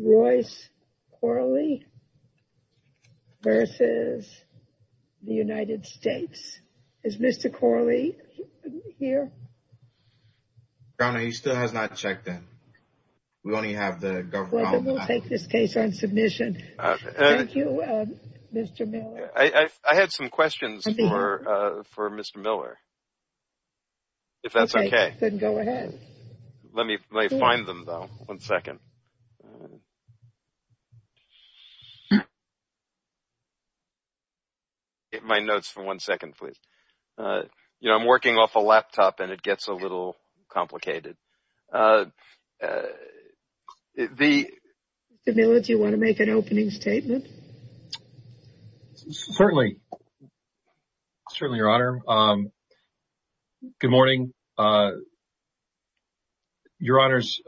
Royce Corley v. United States I had some questions for Mr. Miller, if that's okay. Then go ahead. Let me find them, though. One second. Get my notes for one second, please. You know, I'm working off a laptop and it gets a little complicated. Mr. Miller, do you want to make an opening statement? Certainly. Certainly, Your Honor. Good morning, Your Honors.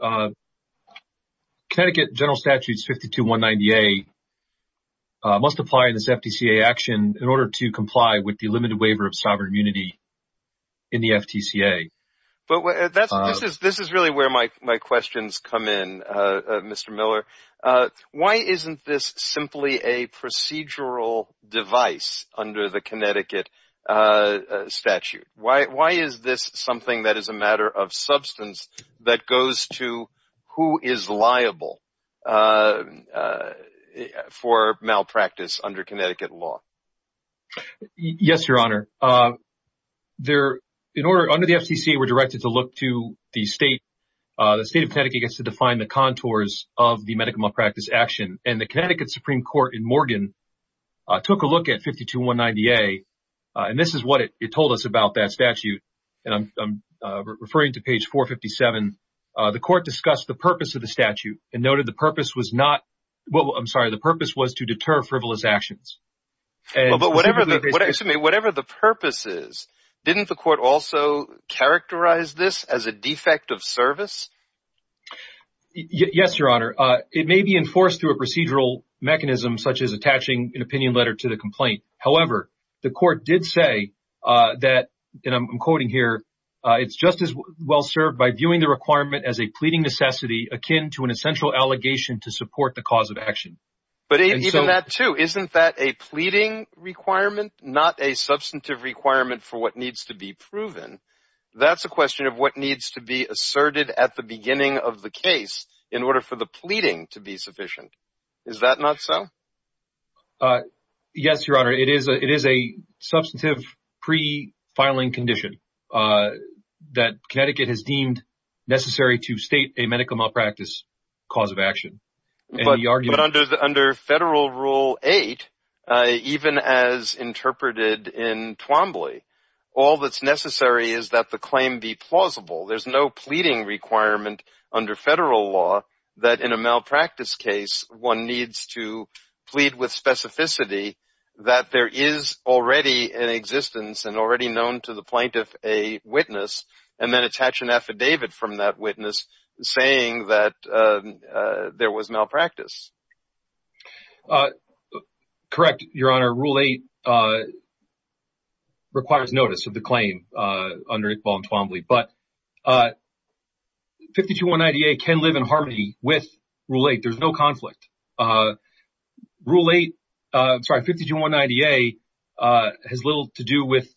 Connecticut General Statutes 52190A must apply in this FTCA action in order to comply with the limited waiver of sovereign immunity in the FTCA. This is really where my questions come in, Mr. Miller. Why isn't this simply a procedural device under the Connecticut statute? Why is this something that is a matter of substance that goes to who is liable for malpractice under Connecticut law? Yes, Your Honor. Under the FTCA, we're directed to look to the State of Connecticut gets to define the contours of the medical malpractice action. And the Connecticut Supreme Court in Morgan took a look at 52190A. And this is what it told us about that statute. And I'm referring to page 457. The court discussed the purpose of the statute and noted the purpose was to deter frivolous actions. But whatever the purpose is, didn't the court also characterize this as a defect of service? Yes, Your Honor. It may be enforced through a procedural mechanism such as attaching an opinion letter to the complaint. However, the court did say that, and I'm quoting here, it's just as well served by viewing the requirement as a pleading necessity akin to an essential allegation to support the cause of action. But even that, too, isn't that a pleading requirement, not a substantive requirement for what needs to be proven? That's a question of what needs to be asserted at the beginning of the case in order for the pleading to be sufficient. Is that not so? Yes, Your Honor. It is a substantive pre-filing condition that Connecticut has deemed necessary to state a medical malpractice cause of action. But under Federal Rule 8, even as interpreted in Twombly, all that's necessary is that the claim be plausible. There's no pleading requirement under federal law that in a malpractice case, one needs to plead with specificity that there is already an existence and already known to the plaintiff a witness, and then attach an affidavit from that witness saying that there was malpractice. Correct, Your Honor. Rule 8 requires notice of the claim under Iqbal and Twombly. But 52190A can live in harmony with Rule 8. There's no conflict. Rule 8, sorry, 52190A has little to do with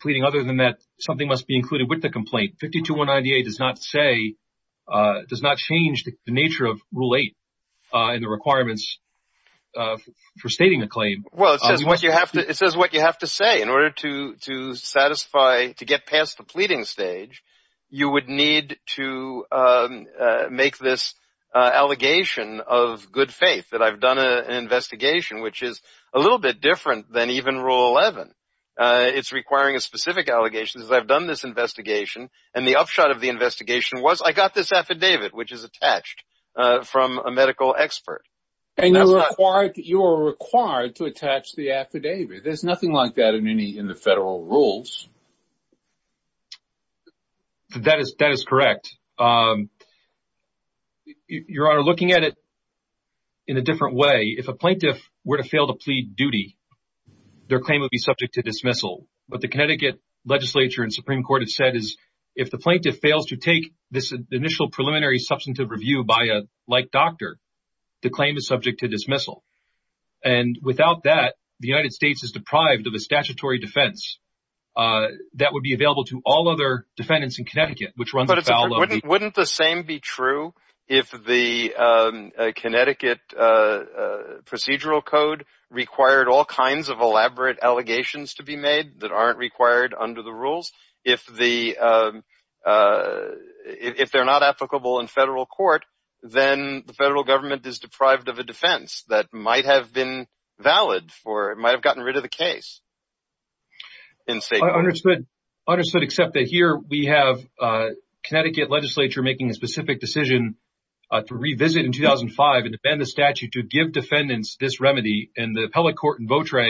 pleading other than that something must be included with the complaint. 52190A does not say, does not change the nature of Rule 8 and the requirements for stating a claim. Well, it says what you have to say. In order to satisfy, to get past the pleading stage, you would need to make this allegation of good faith that I've done an investigation, which is a little bit different than even Rule 11. It's requiring a specific allegation. I've done this investigation, and the upshot of the investigation was I got this affidavit, which is attached from a medical expert. And you're required to attach the affidavit. There's nothing like that in the federal rules. That is correct. Your Honor, looking at it in a different way, if a plaintiff were to fail to plead duty, their claim would be subject to dismissal. What the Connecticut legislature and Supreme Court have said is if the plaintiff fails to take this initial preliminary substantive review by a like doctor, the claim is subject to dismissal. And without that, the United States is deprived of a statutory defense that would be available to all other defendants in Connecticut, which runs afoul of the… But wouldn't the same be true if the Connecticut procedural code required all kinds of elaborate allegations to be made that aren't required under the rules? If they're not applicable in federal court, then the federal government is deprived of a defense that might have been valid for it, might have gotten rid of the case. Understood, except that here we have Connecticut legislature making a specific decision to revisit in 2005 and amend the statute to give defendants this remedy. And the appellate court in Votre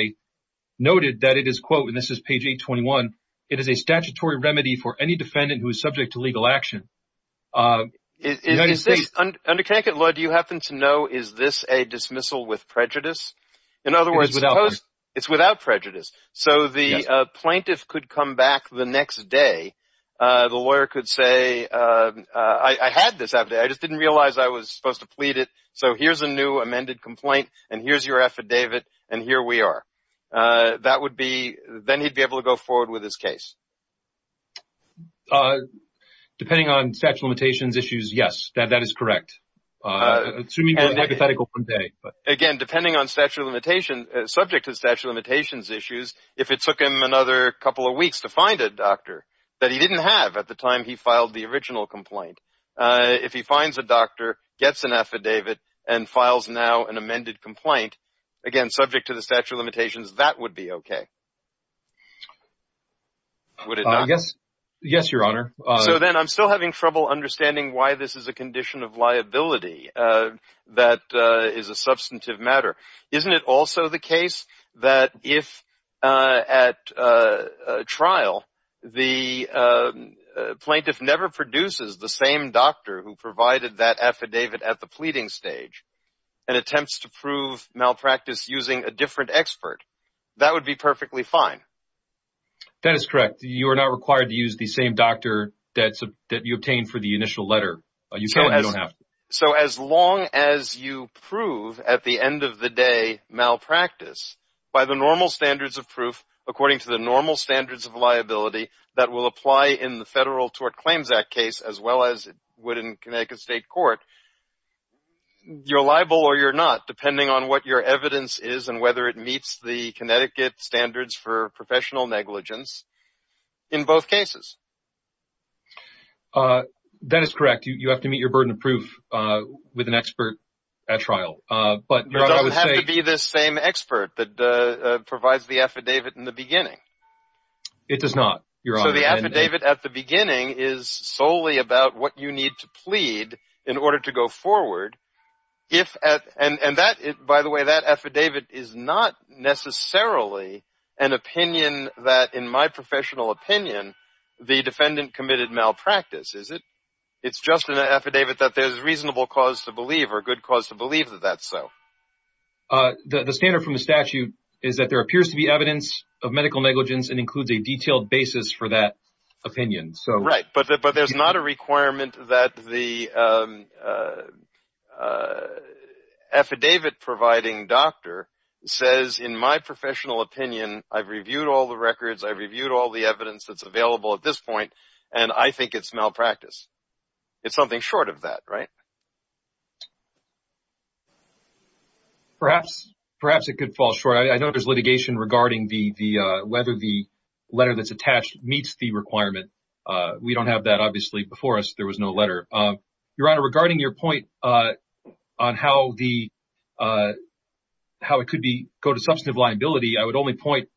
noted that it is, quote, and this is page 821, it is a statutory remedy for any defendant who is subject to legal action. Under Connecticut law, do you happen to know is this a dismissal with prejudice? In other words, it's without prejudice. So the plaintiff could come back the next day. The lawyer could say, I had this. I just didn't realize I was supposed to plead it. So here's a new amended complaint, and here's your affidavit, and here we are. That would be, then he'd be able to go forward with his case. Depending on statute of limitations issues, yes, that is correct. Assuming it was hypothetical one day. Again, depending on statute of limitations, subject to statute of limitations issues, if it took him another couple of weeks to find a doctor that he didn't have at the time he filed the original complaint, if he finds a doctor, gets an affidavit, and files now an amended complaint, again, subject to the statute of limitations, that would be okay. Would it not? Yes, Your Honor. So then I'm still having trouble understanding why this is a condition of liability that is a substantive matter. Isn't it also the case that if at trial, the plaintiff never produces the same doctor who provided that affidavit at the pleading stage and attempts to prove malpractice using a different expert, that would be perfectly fine? That is correct. You are not required to use the same doctor that you obtained for the initial letter. You don't have to. So as long as you prove, at the end of the day, malpractice, by the normal standards of proof, according to the normal standards of liability that will apply in the Federal Tort Claims Act case, as well as would in Connecticut State Court, you're liable or you're not, depending on what your evidence is and whether it meets the Connecticut Standards for Professional Negligence in both cases. That is correct. You have to meet your burden of proof with an expert at trial. You don't have to be this same expert that provides the affidavit in the beginning. It does not, Your Honor. So the affidavit at the beginning is solely about what you need to plead in order to go forward. By the way, that affidavit is not necessarily an opinion that, in my professional opinion, the defendant committed malpractice, is it? It's just an affidavit that there's reasonable cause to believe or a good cause to believe that that's so. The standard from the statute is that there appears to be evidence of medical negligence and includes a detailed basis for that opinion. Right, but there's not a requirement that the affidavit-providing doctor says, in my professional opinion, I've reviewed all the records, I've reviewed all the evidence that's available at this point, and I think it's malpractice. It's something short of that, right? Perhaps it could fall short. I know there's litigation regarding whether the letter that's attached meets the requirement. We don't have that, obviously. Before us, there was no letter. Your Honor, regarding your point on how it could go to substantive liability, I would only point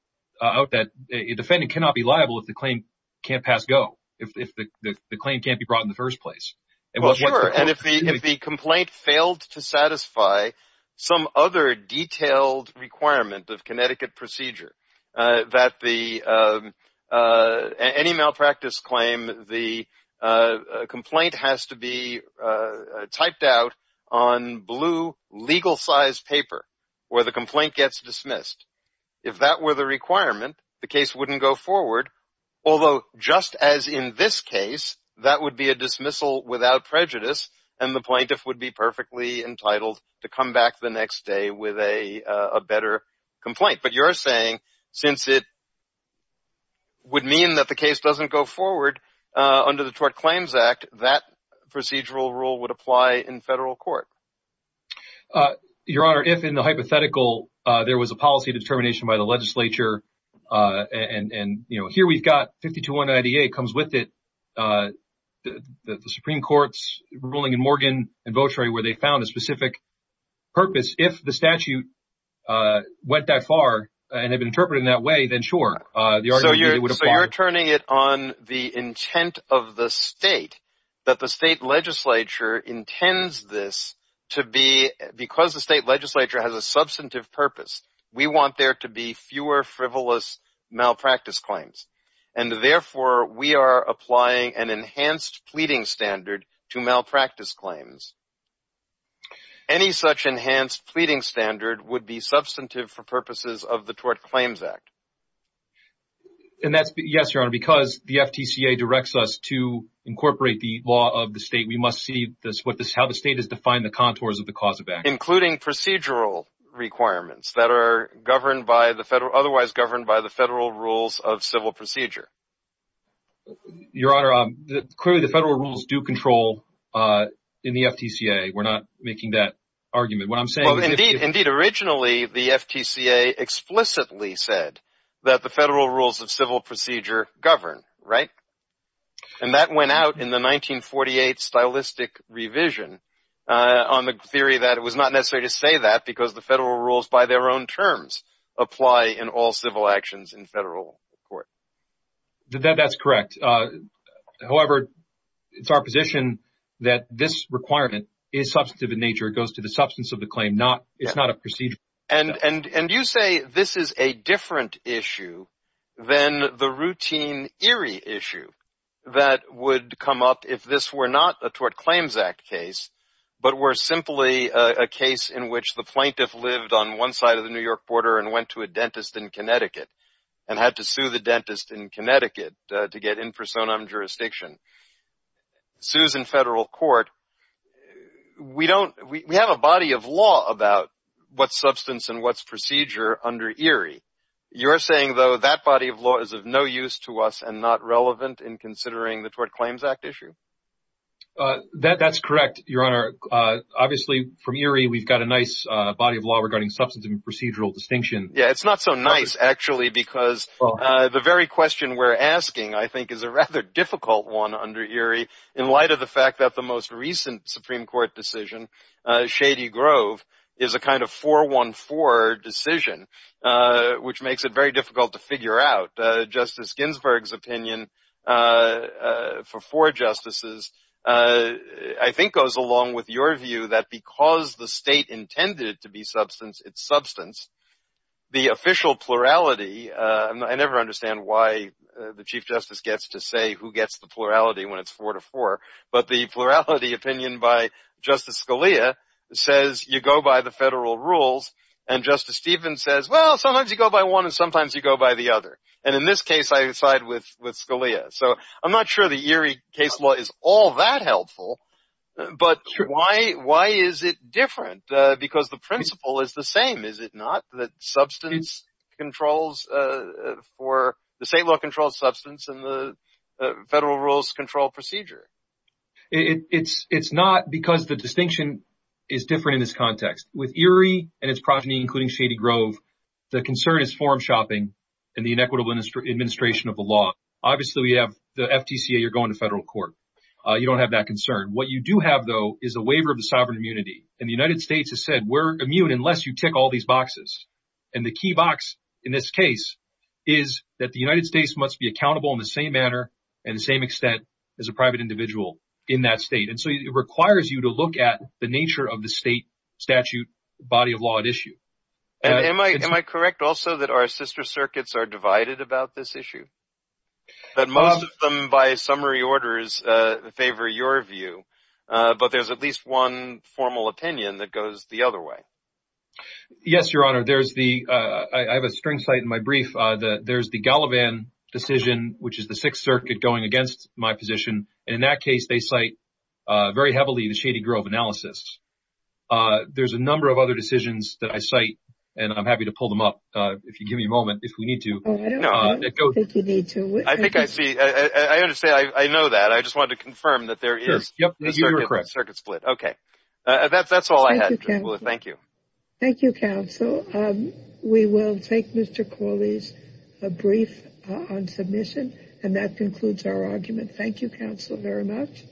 out that a defendant cannot be liable if the claim can't pass go, if the claim can't be brought in the first place. Well, sure, and if the complaint failed to satisfy some other detailed requirement of Connecticut procedure, that any malpractice claim, the complaint has to be typed out on blue legal-sized paper where the complaint gets dismissed. If that were the requirement, the case wouldn't go forward, although just as in this case, that would be a dismissal without prejudice, and the plaintiff would be perfectly entitled to come back the next day with a better complaint. But you're saying since it would mean that the case doesn't go forward under the Tort Claims Act, that procedural rule would apply in federal court. Your Honor, if in the hypothetical there was a policy determination by the legislature, and here we've got 5298, it comes with it, the Supreme Court's ruling in Morgan and Votery where they found a specific purpose, if the statute went that far and had been interpreted in that way, then sure, the argument would apply. So you're turning it on the intent of the state, that the state legislature intends this to be, because the state legislature has a substantive purpose, we want there to be fewer frivolous malpractice claims, and therefore we are applying an enhanced pleading standard to malpractice claims. Any such enhanced pleading standard would be substantive for purposes of the Tort Claims Act. Yes, Your Honor, because the FTCA directs us to incorporate the law of the state, we must see how the state has defined the contours of the cause of action. Including procedural requirements that are governed by the federal, otherwise governed by the federal rules of civil procedure. Your Honor, clearly the federal rules do control in the FTCA. We're not making that argument. What I'm saying is... Indeed, originally the FTCA explicitly said that the federal rules of civil procedure govern, right? And that went out in the 1948 stylistic revision, on the theory that it was not necessary to say that, because the federal rules by their own terms apply in all civil actions in federal court. That's correct. However, it's our position that this requirement is substantive in nature, it goes to the substance of the claim, it's not a procedural requirement. And you say this is a different issue than the routine Erie issue, that would come up if this were not a Tort Claims Act case, but were simply a case in which the plaintiff lived on one side of the New York border and went to a dentist in Connecticut, and had to sue the dentist in Connecticut to get in personam jurisdiction. Sues in federal court. We have a body of law about what's substance and what's procedure under Erie. You're saying, though, that body of law is of no use to us and not relevant in considering the Tort Claims Act issue? That's correct, Your Honor. Obviously, from Erie, we've got a nice body of law regarding substance and procedural distinction. Yeah, it's not so nice, actually, because the very question we're asking, I think, is a rather difficult one under Erie, in light of the fact that the most recent Supreme Court decision, Shady Grove, is a kind of 4-1-4 decision, which makes it very difficult to figure out. Justice Ginsburg's opinion for four justices, I think, goes along with your view that because the state intended it to be substance, it's substance. The official plurality, I never understand why the Chief Justice gets to say who gets the plurality when it's 4-4, but the plurality opinion by Justice Scalia says you go by the federal rules, and Justice Stevens says, well, sometimes you go by one and sometimes you go by the other. And in this case, I side with Scalia. So I'm not sure the Erie case law is all that helpful, but why is it different? Because the principle is the same, is it not, that the state law controls substance and the federal rules control procedure? It's not because the distinction is different in this context. With Erie and its progeny, including Shady Grove, the concern is form-shopping and the inequitable administration of the law. Obviously, we have the FTCA, you're going to federal court. You don't have that concern. What you do have, though, is a waiver of the sovereign immunity. And the United States has said, we're immune unless you tick all these boxes. And the key box in this case is that the United States must be accountable in the same manner and the same extent as a private individual in that state. And so it requires you to look at the nature of the state statute body of law at issue. Am I correct also that our sister circuits are divided about this issue? But most of them, by summary orders, favor your view. But there's at least one formal opinion that goes the other way. Yes, Your Honor. I have a string cite in my brief. There's the Gallivan decision, which is the Sixth Circuit going against my position. In that case, they cite very heavily the Shady Grove analysis. There's a number of other decisions that I cite, and I'm happy to pull them up if you give me a moment if we need to. I don't think you need to. I think I see. I understand. I know that. I just wanted to confirm that there is a circuit split. Okay. That's all I had. Thank you. Thank you, counsel. We will take Mr. Corley's brief on submission. And that concludes our argument. Thank you, counsel, very much.